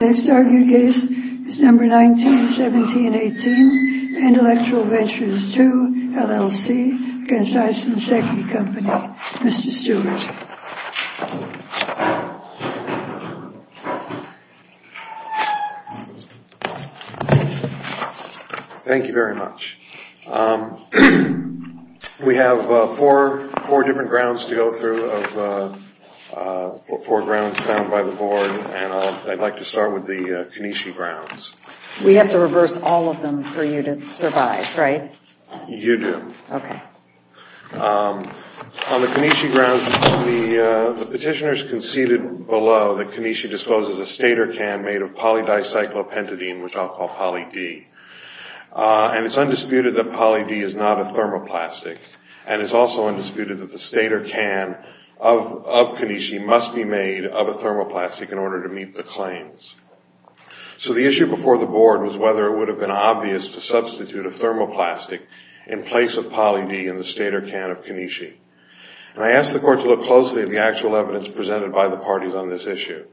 Next argued case, December 19, 1718, Intellectual Ventures II LLC v. Aisin Seiki Co., Ltd. Mr. Stewart. Thank you very much. We have four different grounds to go through, four grounds found by the board. And I'd like to start with the Keneshi grounds. We have to reverse all of them for you to survive, right? You do. Okay. On the Keneshi grounds, the petitioners conceded below that Keneshi disposes a stator can made of polydicyclopentadiene, which I'll call poly-D. And it's undisputed that poly-D is not a thermoplastic. And it's also undisputed that the stator can of Keneshi must be made of a thermoplastic in order to meet the claims. So the issue before the board was whether it would have been obvious to substitute a thermoplastic in place of poly-D in the stator can of Keneshi. And I asked the court to look closely at the actual evidence presented by the parties on this issue.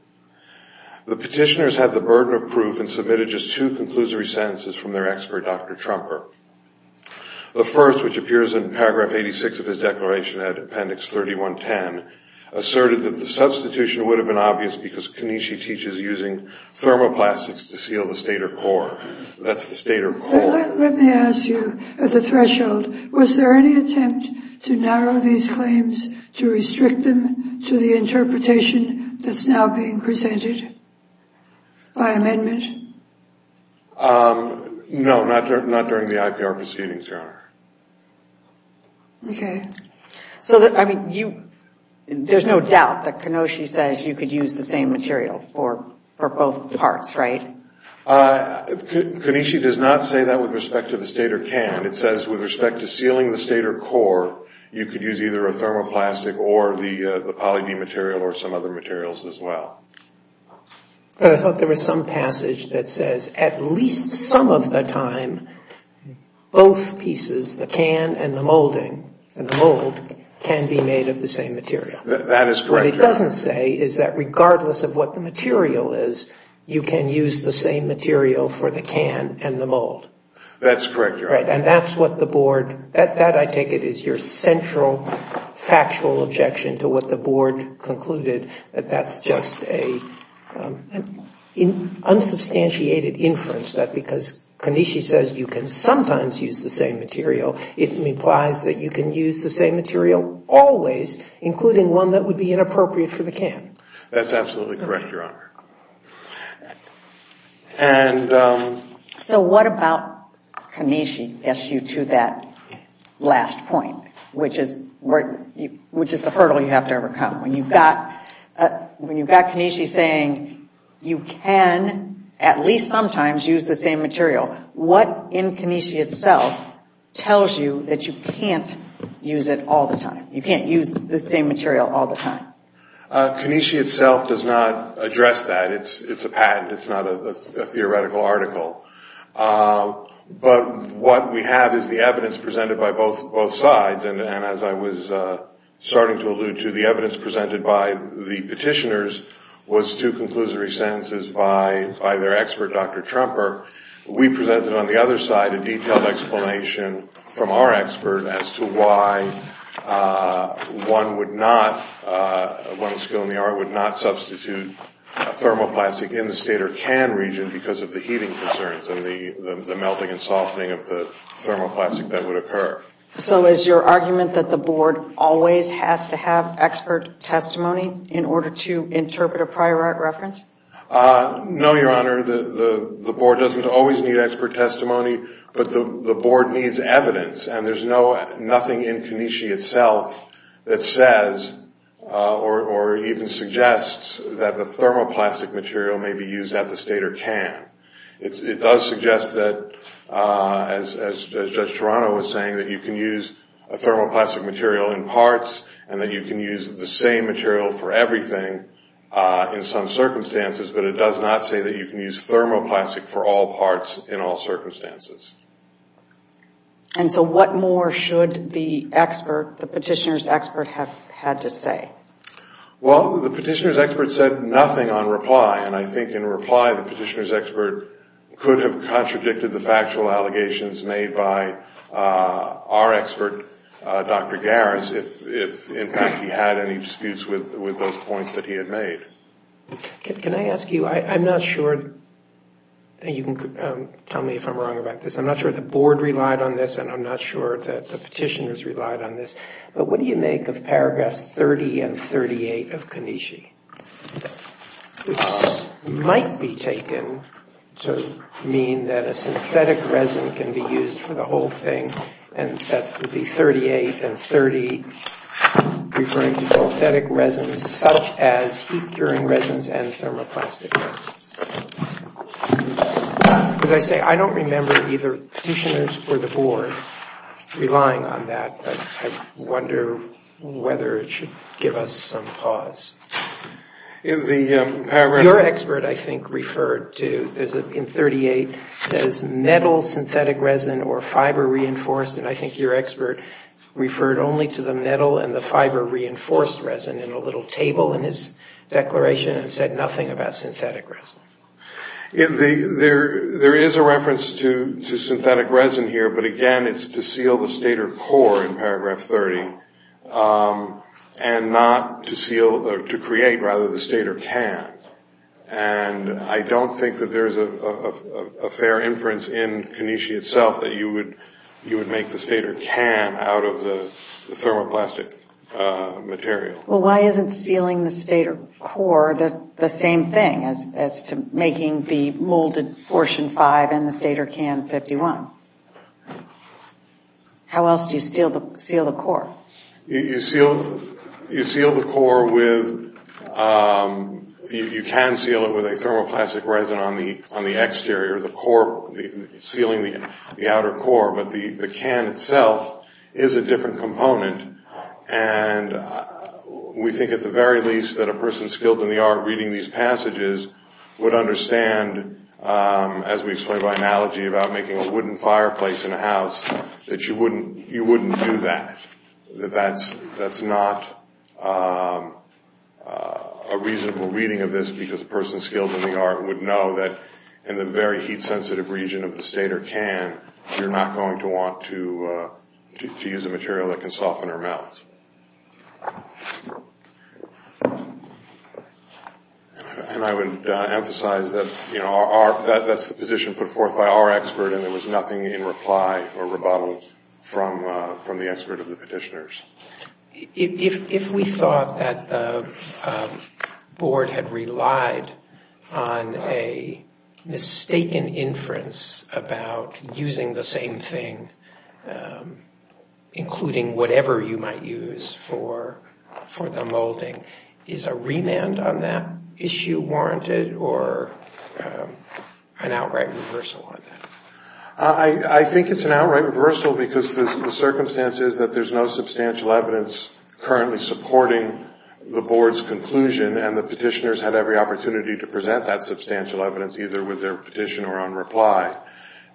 The petitioners had the burden of proof and submitted just two conclusory sentences from their expert, Dr. Trumper. The first, which appears in paragraph 86 of his declaration at appendix 3110, asserted that the substitution would have been obvious because Keneshi teaches using thermoplastics to seal the stator core. That's the stator core. Let me ask you, at the threshold, was there any attempt to narrow these claims to restrict them to the interpretation that's now being presented by amendment? No, not during the IPR proceedings, Your Honor. Okay. So, I mean, there's no doubt that Keneshi says you could use the same material for both parts, right? Keneshi does not say that with respect to the stator can. It says with respect to sealing the stator core, you could use either a thermoplastic or the poly-D material or some other materials as well. But I thought there was some passage that says at least some of the time, both pieces, the can and the mold can be made of the same material. That is correct, Your Honor. What it doesn't say is that regardless of what the material is, you can use the same material for the can and the mold. That's correct, Your Honor. Right, and that's what the board, that I take it is your central factual objection to what the board concluded, that that's just an unsubstantiated inference that because Keneshi says you can sometimes use the same material, it implies that you can use the same material always, including one that would be inappropriate for the can. That's absolutely correct, Your Honor. So what about Keneshi gets you to that last point, which is the hurdle you have to overcome? When you've got Keneshi saying you can at least sometimes use the same material, what in Keneshi itself tells you that you can't use it all the time? You can't use the same material all the time? Keneshi itself does not address that. It's a patent. It's not a theoretical article. But what we have is the evidence presented by both sides, and as I was starting to allude to, the evidence presented by the petitioners was two conclusory sentences by their expert, Dr. Tremper. We presented on the other side a detailed explanation from our expert as to why one would not, one with a skill in the art would not substitute a thermoplastic in the state or can region because of the heating concerns and the melting and softening of the thermoplastic that would occur. So is your argument that the board always has to have expert testimony in order to interpret a prior art reference? No, Your Honor. The board doesn't always need expert testimony, but the board needs evidence, and there's nothing in Keneshi itself that says or even suggests that the thermoplastic material may be used at the state or can. It does suggest that, as Judge Toronto was saying, that you can use a thermoplastic material in parts and that you can use the same material for everything in some circumstances, but it does not say that you can use thermoplastic for all parts in all circumstances. And so what more should the expert, the petitioner's expert, have had to say? Well, the petitioner's expert said nothing on reply, and I think in reply the petitioner's expert could have contradicted the factual allegations made by our expert, Dr. Garris, if in fact he had any disputes with those points that he had made. Can I ask you, I'm not sure, and you can tell me if I'm wrong about this, I'm not sure the board relied on this and I'm not sure that the petitioners relied on this, but what do you make of paragraphs 30 and 38 of Keneshi? This might be taken to mean that a synthetic resin can be used for the whole thing, and that would be 38 and 30 referring to synthetic resins such as heat-curing resins and thermoplastic resins. As I say, I don't remember either the petitioners or the board relying on that, but I wonder whether it should give us some pause. Your expert, I think, referred to, in 38, says metal synthetic resin or fiber-reinforced, and I think your expert referred only to the metal and the fiber-reinforced resin in a little table in his declaration and said nothing about synthetic resin. There is a reference to synthetic resin here, but again, it's to seal the stator core in paragraph 30 and not to create the stator can, and I don't think that there is a fair inference in Keneshi itself that you would make the stator can out of the thermoplastic material. Well, why isn't sealing the stator core the same thing as making the molded portion 5 and the stator can 51? How else do you seal the core? You seal the core with, you can seal it with a thermoplastic resin on the exterior, sealing the outer core, but the can itself is a different component, and we think at the very least that a person skilled in the art of reading these passages would understand, as we explained by analogy about making a wooden fireplace in a house, that you wouldn't do that, that that's not a reasonable reading of this because a person skilled in the art would know that in the very heat-sensitive region of the stator can, you're not going to want to use a material that can soften or melt. And I would emphasize that that's the position put forth by our expert, and there was nothing in reply or rebuttal from the expert of the petitioners. If we thought that the board had relied on a mistaken inference about using the same thing, including whatever you might use for the molding, is a remand on that issue warranted or an outright reversal on that? I think it's an outright reversal because the circumstance is that there's no substantial evidence currently supporting the board's conclusion, and the petitioners had every opportunity to present that substantial evidence, either with their petition or on reply.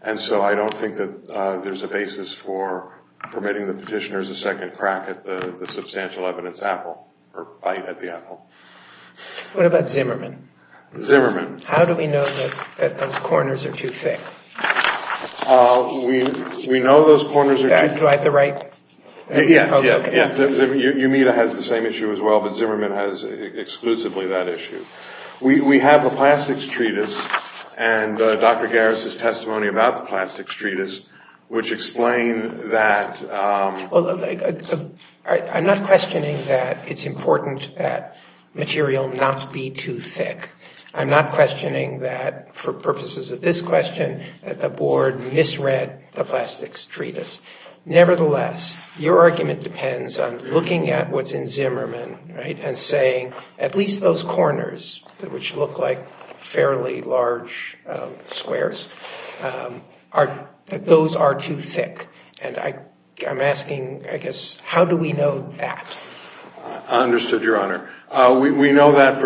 And so I don't think that there's a basis for permitting the petitioners a second crack at the substantial evidence apple, or bite at the apple. What about Zimmerman? Zimmerman. How do we know that those corners are too thick? We know those corners are too thick. Do I have the right? Yeah, yeah. Okay. Umeda has the same issue as well, but Zimmerman has exclusively that issue. We have the Plastics Treatise and Dr. Garris' testimony about the Plastics Treatise, which explain that. Well, I'm not questioning that it's important that material not be too thick. I'm not questioning that, for purposes of this question, that the board misread the Plastics Treatise. Nevertheless, your argument depends on looking at what's in Zimmerman, right, and saying at least those corners, which look like fairly large squares, that those are too thick. And I'm asking, I guess, how do we know that? I understood, Your Honor. We know that,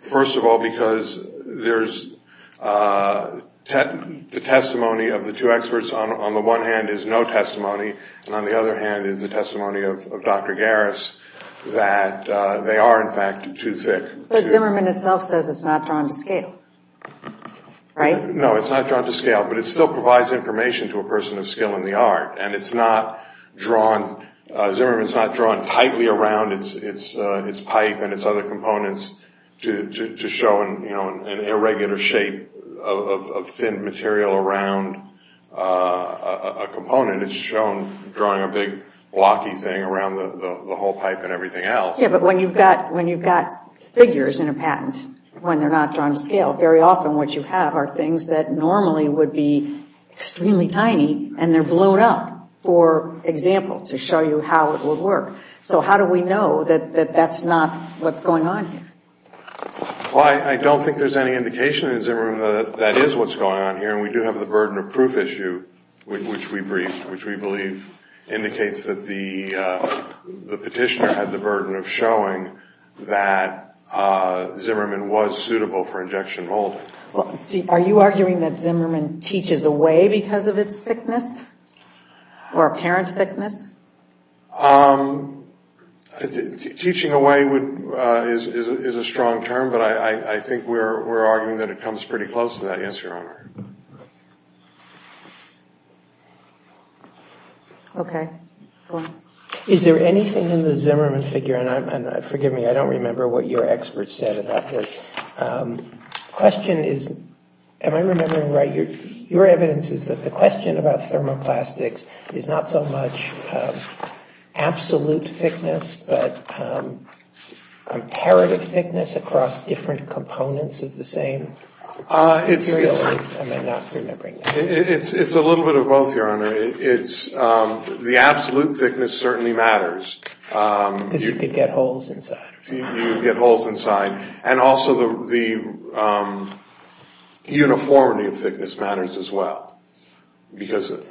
first of all, because there's the testimony of the two experts. On the one hand is no testimony, and on the other hand is the testimony of Dr. Garris, that they are, in fact, too thick. But Zimmerman itself says it's not drawn to scale, right? No, it's not drawn to scale, but it still provides information to a person of skill in the art. And it's not drawn, Zimmerman's not drawn tightly around its pipe and its other components to show an irregular shape of thin material around a component. It's shown drawing a big blocky thing around the whole pipe and everything else. Yeah, but when you've got figures in a patent, when they're not drawn to scale, very often what you have are things that normally would be extremely tiny, and they're blown up, for example, to show you how it would work. So how do we know that that's not what's going on here? Well, I don't think there's any indication in Zimmerman that that is what's going on here, and we do have the burden of proof issue, which we believe indicates that the petitioner had the burden of showing that Zimmerman was suitable for injection molding. Are you arguing that Zimmerman teaches away because of its thickness or apparent thickness? Teaching away is a strong term, but I think we're arguing that it comes pretty close to that. Yes, Your Honor. Okay. Go on. Is there anything in the Zimmerman figure, and forgive me, I don't remember what your expert said about this. The question is, am I remembering right? Your evidence is that the question about thermoplastics is not so much absolute thickness, but comparative thickness across different components of the same material. Am I not remembering that? It's a little bit of both, Your Honor. The absolute thickness certainly matters. Because you could get holes inside. And also the uniformity of thickness matters as well.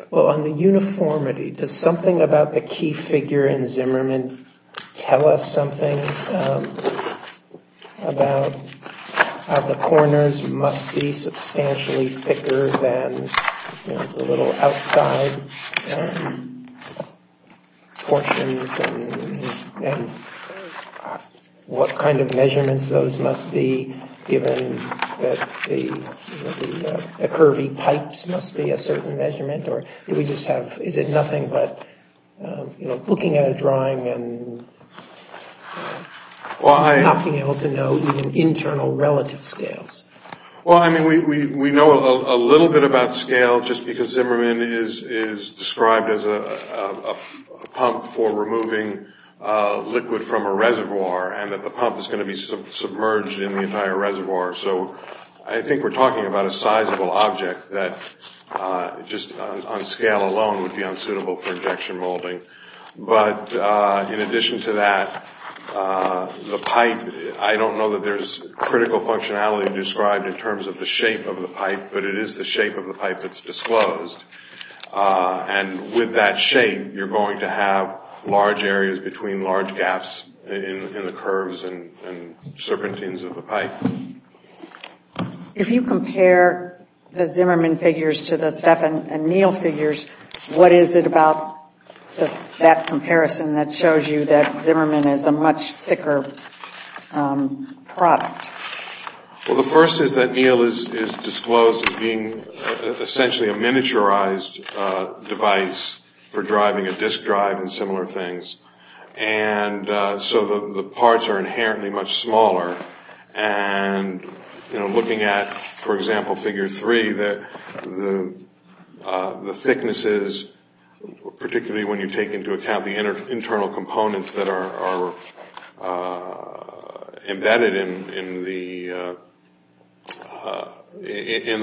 Well, on the uniformity, does something about the key figure in Zimmerman tell us something about how the corners must be substantially thicker than the little outside portions? And what kind of measurements those must be, given that the curvy pipes must be a certain measurement? Or is it nothing but looking at a drawing and not being able to know even internal relative scales? Well, I mean, we know a little bit about scale just because Zimmerman is described as a pump for removing liquid from a reservoir, and that the pump is going to be submerged in the entire reservoir. So I think we're talking about a sizable object that just on scale alone would be unsuitable for injection molding. But in addition to that, the pipe, I don't know that there's critical functionality described in terms of the shape of the pipe, but it is the shape of the pipe that's disclosed. And with that shape, you're going to have large areas between large gaps in the curves and serpentines of the pipe. If you compare the Zimmerman figures to the Stephan and Neal figures, what is it about that comparison that shows you that Zimmerman is a much thicker product? Well, the first is that Neal is disclosed as being essentially a miniaturized device for driving a disk drive and similar things. And so the parts are inherently much smaller. And looking at, for example, figure three, the thicknesses, particularly when you take into account the internal components that are embedded in the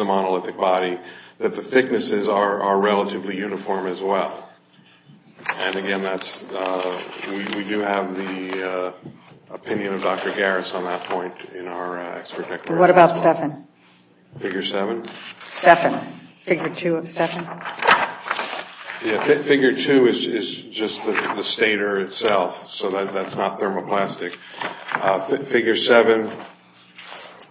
monolithic body, that the thicknesses are relatively uniform as well. And again, we do have the opinion of Dr. Garris on that point in our expert declaration. What about Stephan? Figure seven? Stephan, figure two of Stephan? Yeah, figure two is just the stator itself, so that's not thermoplastic. Figure seven,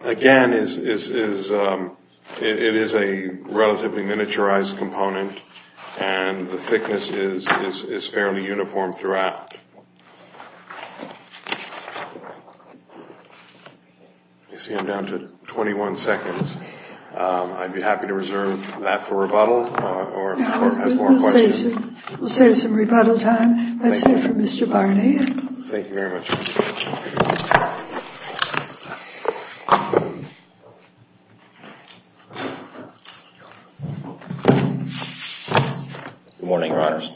again, it is a relatively miniaturized component, and the thickness is fairly uniform throughout. You see I'm down to 21 seconds. I'd be happy to reserve that for rebuttal or if the court has more questions. We'll save some rebuttal time. That's it for Mr. Barney. Thank you very much. Good morning, Your Honors.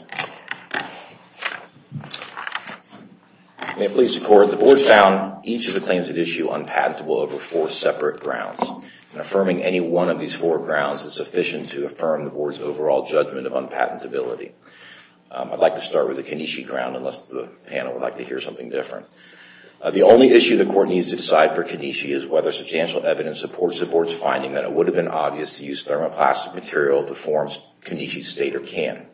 May it please the Court, the Board found each of the claims at issue unpatentable over four separate grounds. And affirming any one of these four grounds is sufficient to affirm the Board's overall judgment of unpatentability. I'd like to start with the Keneshi ground, unless the panel would like to hear something different. The only issue the Court needs to decide for Keneshi is whether substantial evidence supports the Board's finding that it would have been obvious to use thermoplastic material to form Keneshi's stator can.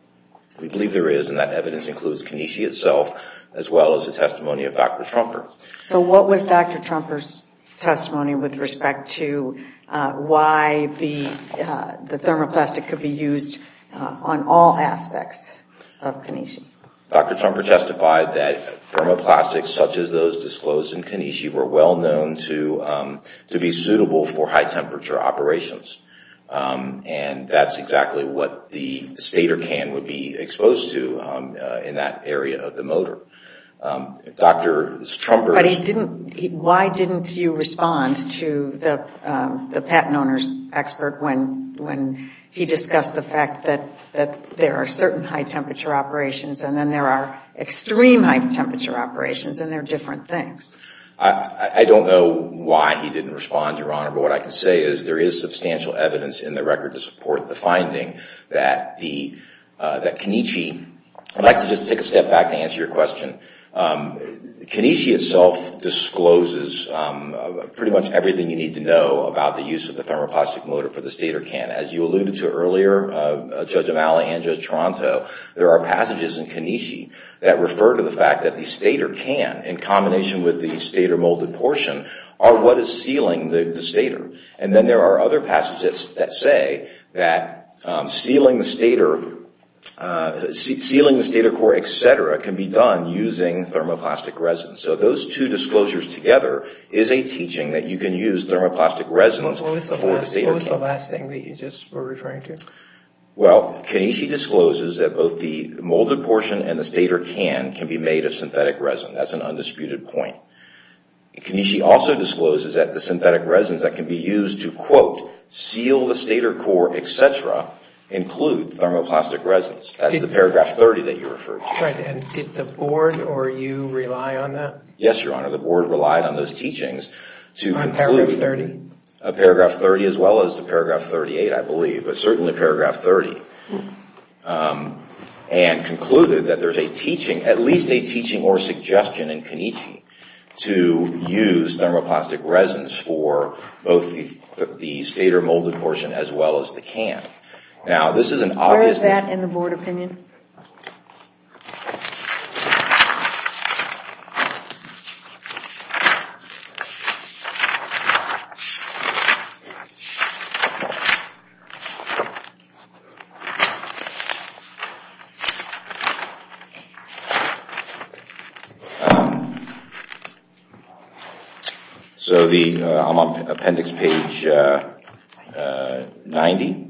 We believe there is, and that evidence includes Keneshi itself, as well as the testimony of Dr. Trumper. So what was Dr. Trumper's testimony with respect to why the thermoplastic could be used on all aspects of Keneshi? Dr. Trumper testified that thermoplastics such as those disclosed in Keneshi were well known to be suitable for high temperature operations, and that's exactly what the stator can would be exposed to in that area of the motor. Why didn't you respond to the patent owner's expert when he discussed the fact that there are certain high temperature operations, and then there are extreme high temperature operations, and they're different things? I don't know why he didn't respond, Your Honor, but what I can say is there is substantial evidence in the record to support the finding that Keneshi... I'd like to just take a step back to answer your question. Keneshi itself discloses pretty much everything you need to know about the use of the thermoplastic motor for the stator can. As you alluded to earlier, Judge O'Malley and Judge Toronto, there are passages in Keneshi that refer to the fact that the stator can, in combination with the stator molded portion, are what is sealing the stator. And then there are other passages that say that sealing the stator core, et cetera, can be done using a thermoplastic motor. So those two disclosures together is a teaching that you can use thermoplastic resonance... What was the last thing that you just were referring to? Well, Keneshi discloses that both the molded portion and the stator can can be made of synthetic resin. That's an undisputed point. Keneshi also discloses that the synthetic resins that can be used to, quote, seal the stator core, et cetera, include thermoplastic resonance. That's the paragraph 30 that you referred to. Did the Board or you rely on that? Yes, Your Honor, the Board relied on those teachings to conclude... Paragraph 30? Paragraph 30 as well as paragraph 38, I believe, but certainly paragraph 30. And concluded that there's a teaching, at least a teaching or suggestion in Keneshi to use thermoplastic resonance for both the stator molded portion as well as the can. Where is that in the Board opinion? So I'm on appendix page 90.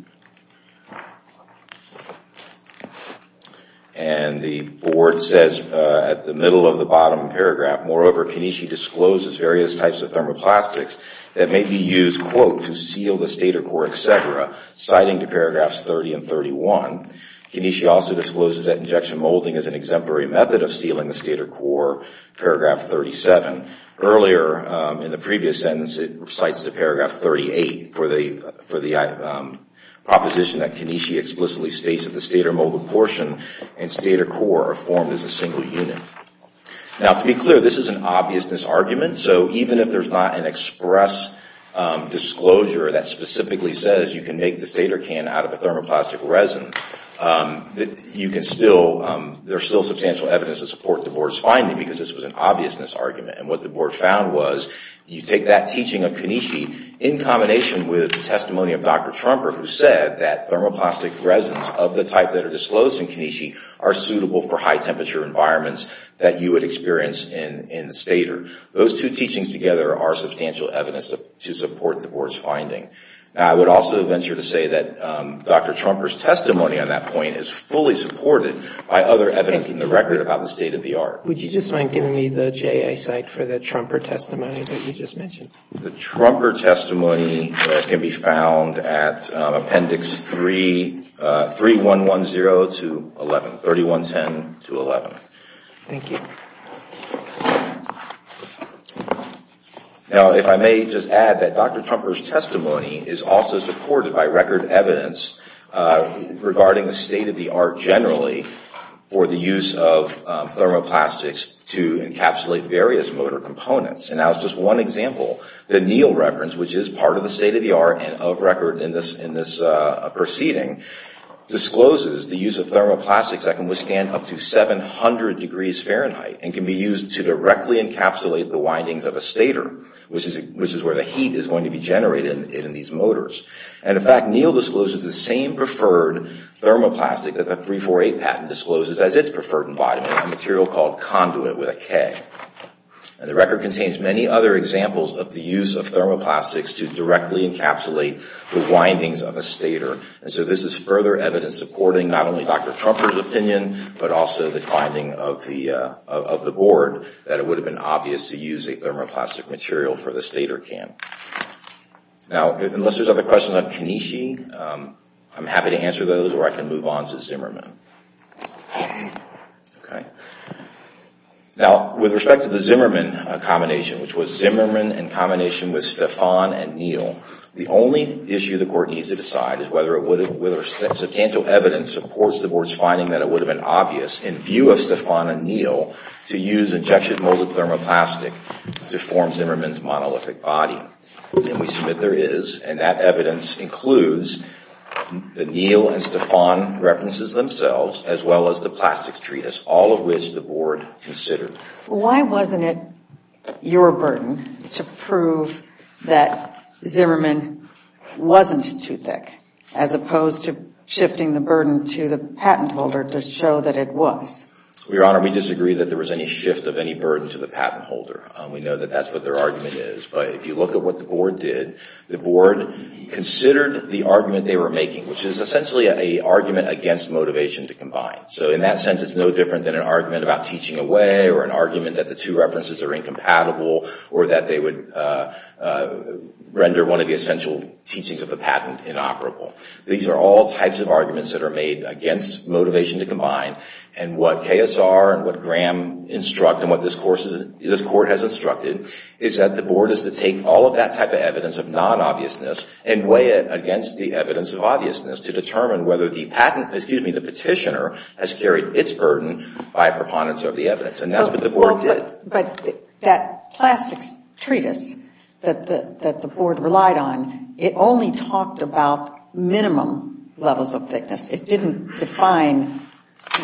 And the Board says at the middle of the bottom paragraph, moreover, Keneshi discloses various types of thermoplastics that may be used, quote, to seal the stator core, et cetera, citing paragraphs 30 and 31. Keneshi also discloses that injection molding is an exemplary method of sealing the stator core, paragraph 37. Earlier in the previous sentence, it cites the paragraph 38 for the proposition that Keneshi explicitly states that the stator molded portion and stator core are formed as a single unit. Now, to be clear, this is an obvious misargument. So even if there's not an express disclosure that specifically says you can make the stator can out of a thermoplastic resin, there's still substantial evidence to support the Board's finding because this was an obvious misargument. And what the Board found was you take that teaching of Keneshi in combination with the testimony of Dr. Trumper, who said that thermoplastic resins of the type that are disclosed in Keneshi are suitable for high temperature environments that you would experience in the stator. Those two teachings together are substantial evidence to support the Board's finding. Now, I would also venture to say that Dr. Trumper's testimony on that point is fully supported by other evidence in the record about the state-of-the-art. The Trumper testimony can be found at Appendix 3, 3110 to 11, 3110 to 11. Thank you. Now, if I may just add that Dr. Trumper's testimony is also supported by record evidence regarding the state-of-the-art generally for the use of thermoplastics to encapsulate various motor components. And that was just one example. The Neal reference, which is part of the state-of-the-art and of record in this proceeding, discloses the use of thermoplastics that can be heated to 700 degrees Fahrenheit and can be used to directly encapsulate the windings of a stator, which is where the heat is going to be generated in these motors. And, in fact, Neal discloses the same preferred thermoplastic that the 348 patent discloses as its preferred embodiment, a material called conduit with a K. And the record contains many other examples of the use of thermoplastics to directly encapsulate the windings of a stator. And so this is further evidence supporting not only Dr. Trumper's opinion, but also the finding of the board, that it would have been obvious to use a thermoplastic material for the stator can. Now, unless there's other questions on Kanishi, I'm happy to answer those or I can move on to Zimmerman. Now, with respect to the Zimmerman combination, which was Zimmerman in combination with Stefan and Neal, the only issue the court needs to answer is whether substantial evidence supports the board's finding that it would have been obvious in view of Stefan and Neal to use injection molded thermoplastic to form Zimmerman's monolithic body. And we submit there is, and that evidence includes the Neal and Stefan references themselves, as well as the plastics treatise, all of which the board considered. Why wasn't it your burden to prove that Zimmerman wasn't too thick, as opposed to shifting the burden to the patent holder to show that it was? Your Honor, we disagree that there was any shift of any burden to the patent holder. We know that that's what their argument is. But if you look at what the board did, the board considered the argument they were making, which is essentially an argument against motivation to combine. So in that sense, it's no different than an argument about teaching away, or an argument that the two references are incompatible, or that they would render one of the essential teachings of the patent inoperable. These are all types of arguments that are made against motivation to combine, and what KSR and what Graham instruct and what this court has instructed is that the board is to take all of that type of evidence of non-obviousness and weigh it against the evidence of non-obviousness. And that's what the board did. But that plastics treatise that the board relied on, it only talked about minimum levels of thickness. It didn't define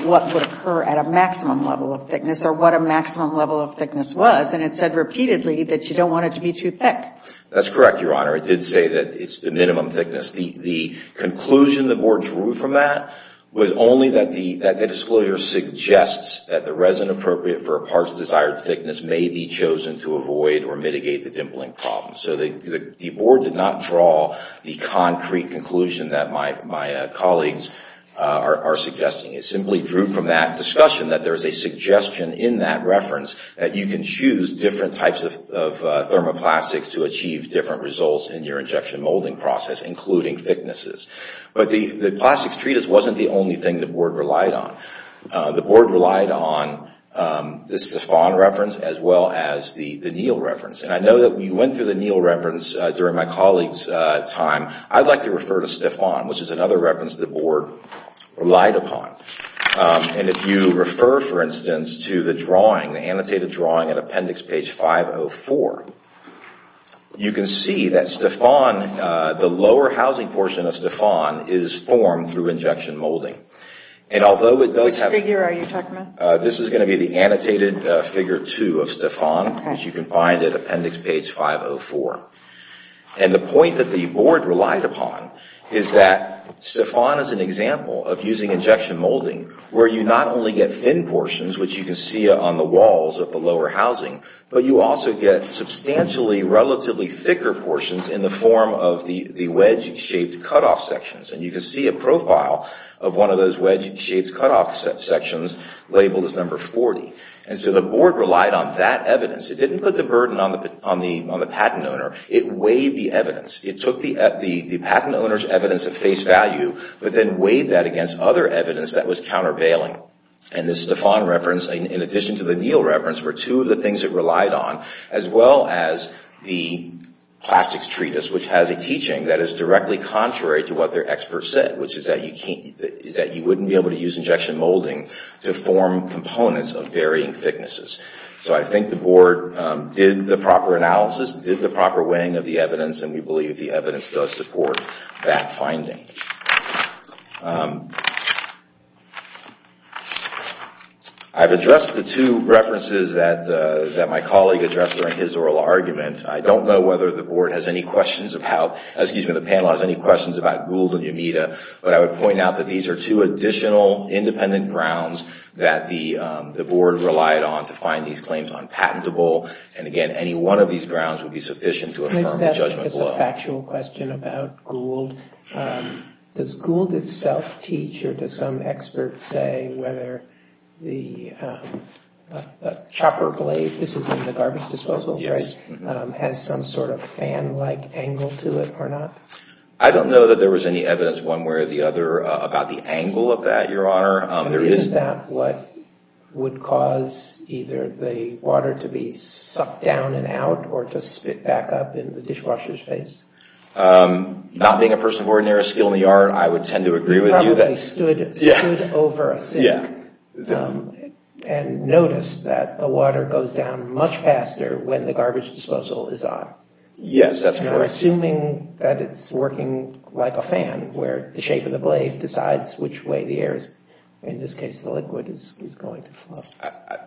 what would occur at a maximum level of thickness, or what a maximum level of thickness was. And it said repeatedly that you don't want it to be too thick. That's correct, Your Honor. It did say that it's the minimum thickness. The conclusion the board drew from that was that the disclosure suggests that the resin appropriate for a part's desired thickness may be chosen to avoid or mitigate the dimpling problem. So the board did not draw the concrete conclusion that my colleagues are suggesting. It simply drew from that discussion that there's a suggestion in that reference that you can choose different types of thermoplastics to achieve different results in your injection molding process, including thicknesses. But the plastics treatise wasn't the only thing the board relied on. The board relied on the Stefan reference as well as the Neal reference. And I know that we went through the Neal reference during my colleague's time. I'd like to refer to Stefan, which is another reference the board relied upon. And if you refer, for instance, to the drawing, the annotated drawing at appendix page 504, you can see that the lower housing portion of Stefan is formed through injection molding. And although it does have... Which figure are you talking about? This is going to be the annotated figure two of Stefan, which you can find at appendix page 504. And the point that the board relied upon is that Stefan is an example of using injection molding where you not only get thin portions, which you can see on the walls of the lower housing, but you also get substantially relatively thicker portions in the form of the wedge-shaped cut-off sections. And you can see a profile of one of those wedge-shaped cut-off sections labeled as number 40. And so the board relied on that evidence. It didn't put the burden on the patent owner. It weighed the evidence. It took the patent owner's evidence of face value, but then weighed that against other evidence that was countervailing. And the Stefan reference, in addition to the Neal reference, were two of the things it relied on, as well as the plastics treatise, which has a teaching that is directly contrary to what their expert said, which is that you wouldn't be able to use injection molding to form components of varying thicknesses. So I think the board did the proper analysis, did the proper weighing of the evidence, and we believe the evidence does support that finding. I've addressed the two references that my colleague addressed during his oral argument. I don't know whether the board has any questions about, excuse me, the panel has any questions about Gould and Yamita, but I would point out that these are two additional independent grounds that the board relied on to find these claims unpatentable. And again, any one of these grounds would be sufficient to affirm the judgment below. Can I just ask a factual question about Gould? Does Gould itself teach, or does some expert say, whether the chopper blade, this is in the right angle to it or not? I don't know that there was any evidence one way or the other about the angle of that, Your Honor. Isn't that what would cause either the water to be sucked down and out or to spit back up in the dishwasher's face? Not being a person of ordinary skill in the art, I would tend to agree with you. Probably stood over a sink and noticed that the water goes down much faster when the garbage disposal is off. So we're assuming that it's working like a fan where the shape of the blade decides which way the air is, in this case, the liquid is going to flow.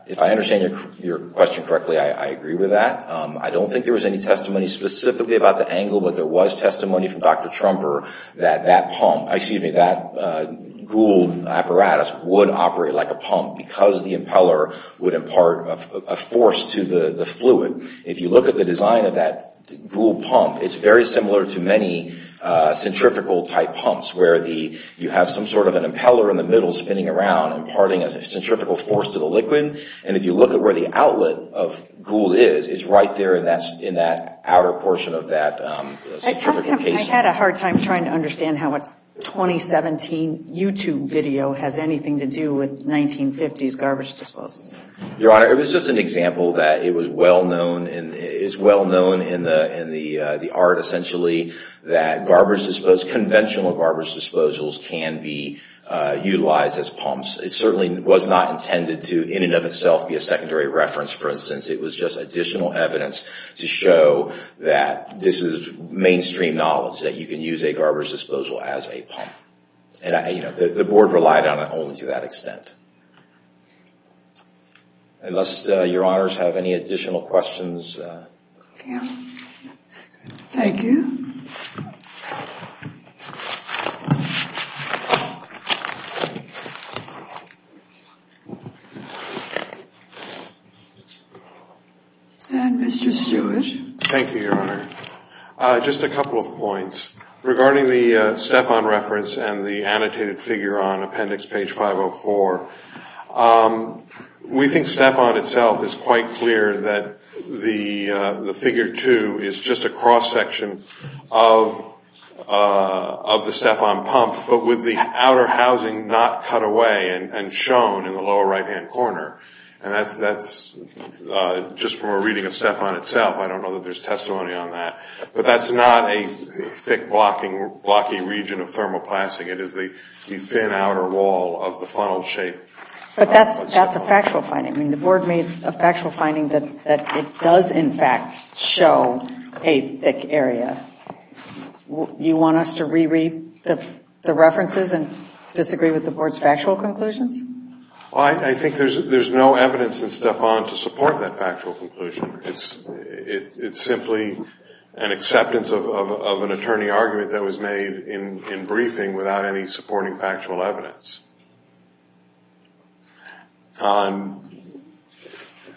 If I understand your question correctly, I agree with that. I don't think there was any testimony specifically about the angle, but there was testimony from Dr. Trumper that that pump, excuse me, that Gould apparatus would operate like a pump because the impeller would impart a force to the fluid. If you look at the design of that Gould pump, it's very similar to many centrifugal-type pumps where you have some sort of an impeller in the middle spinning around imparting a centrifugal force to the liquid. And if you look at where the outlet of Gould is, it's right there and that's in that outer portion of that centrifugal casing. I had a hard time trying to understand how a 2017 YouTube video has anything to do with 1950s garbage disposals. Your Honor, it was just an example that it was well known in the art, essentially, that garbage disposals, conventional garbage disposals, can be utilized as pumps. It certainly was not intended to, in and of itself, be a secondary reference, for instance. It was just additional evidence to show that this is mainstream knowledge, that you can use a garbage disposal as a pump. The Board relied on it only to that extent. Unless Your Honors have any additional questions. Thank you. And Mr. Stewart. Thank you, Your Honor. Just a couple of points. Regarding the Stephan reference and the annotated figure on appendix page 504, we have found, we think Stephan itself is quite clear that the figure 2 is just a cross-section of the Stephan pump, but with the outer housing not cut away and shown in the lower right-hand corner. And that's just from a reading of Stephan itself. I don't know that there's testimony on that. But that's not a thick, blocky region of thermoplastic. It is the thin outer wall of the funnel-shaped... But that's a factual finding. The Board made a factual finding that it does, in fact, show a thick area. You want us to re-read the references and disagree with the Board's factual conclusions? I think there's no evidence in Stephan to support that factual conclusion. It's simply an acceptance of an attorney argument that was made in the past.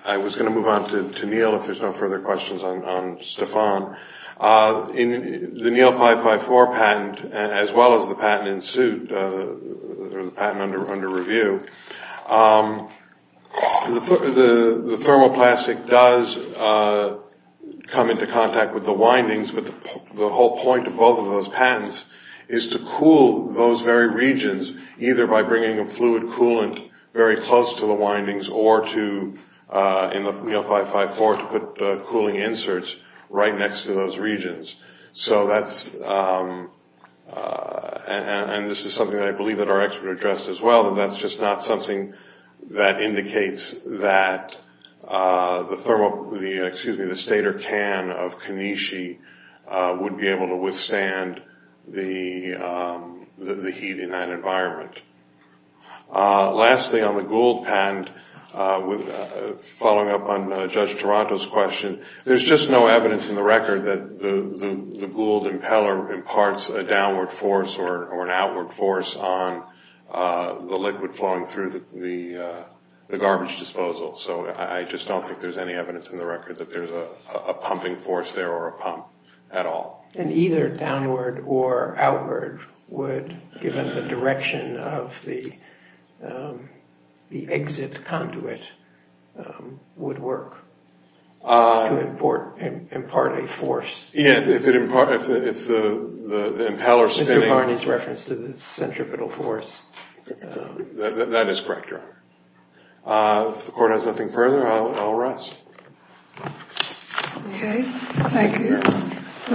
I was going to move on to Neal, if there's no further questions on Stephan. The Neal 554 patent, as well as the patent in suit, or the patent under review, the thermoplastic does come into contact with the windings, but the whole point of both of those patents is to cool those very regions, either by bringing a fluid coolant very close to the windings, or to, in the Neal 554, to put cooling inserts right next to those regions. So that's... And this is something that I believe that our expert addressed as well, and that's just not something that indicates that the stator can of Kanishi would be able to withstand the heat in that environment. Lastly, on the Gould patent, following up on Judge Toronto's question, there's just no evidence in the record that the Gould impeller imparts a downward force or an outward force on the liquid flowing through the garbage disposal. So I just don't think there's any evidence in the record that there's a pumping force there or a pump at all. And either downward or outward would, given the direction of the exit conduit, would work to impart a force? Yeah, if the impeller's spinning... That is correct, Your Honor. If the Court has nothing further, I'll rest. Okay, thank you.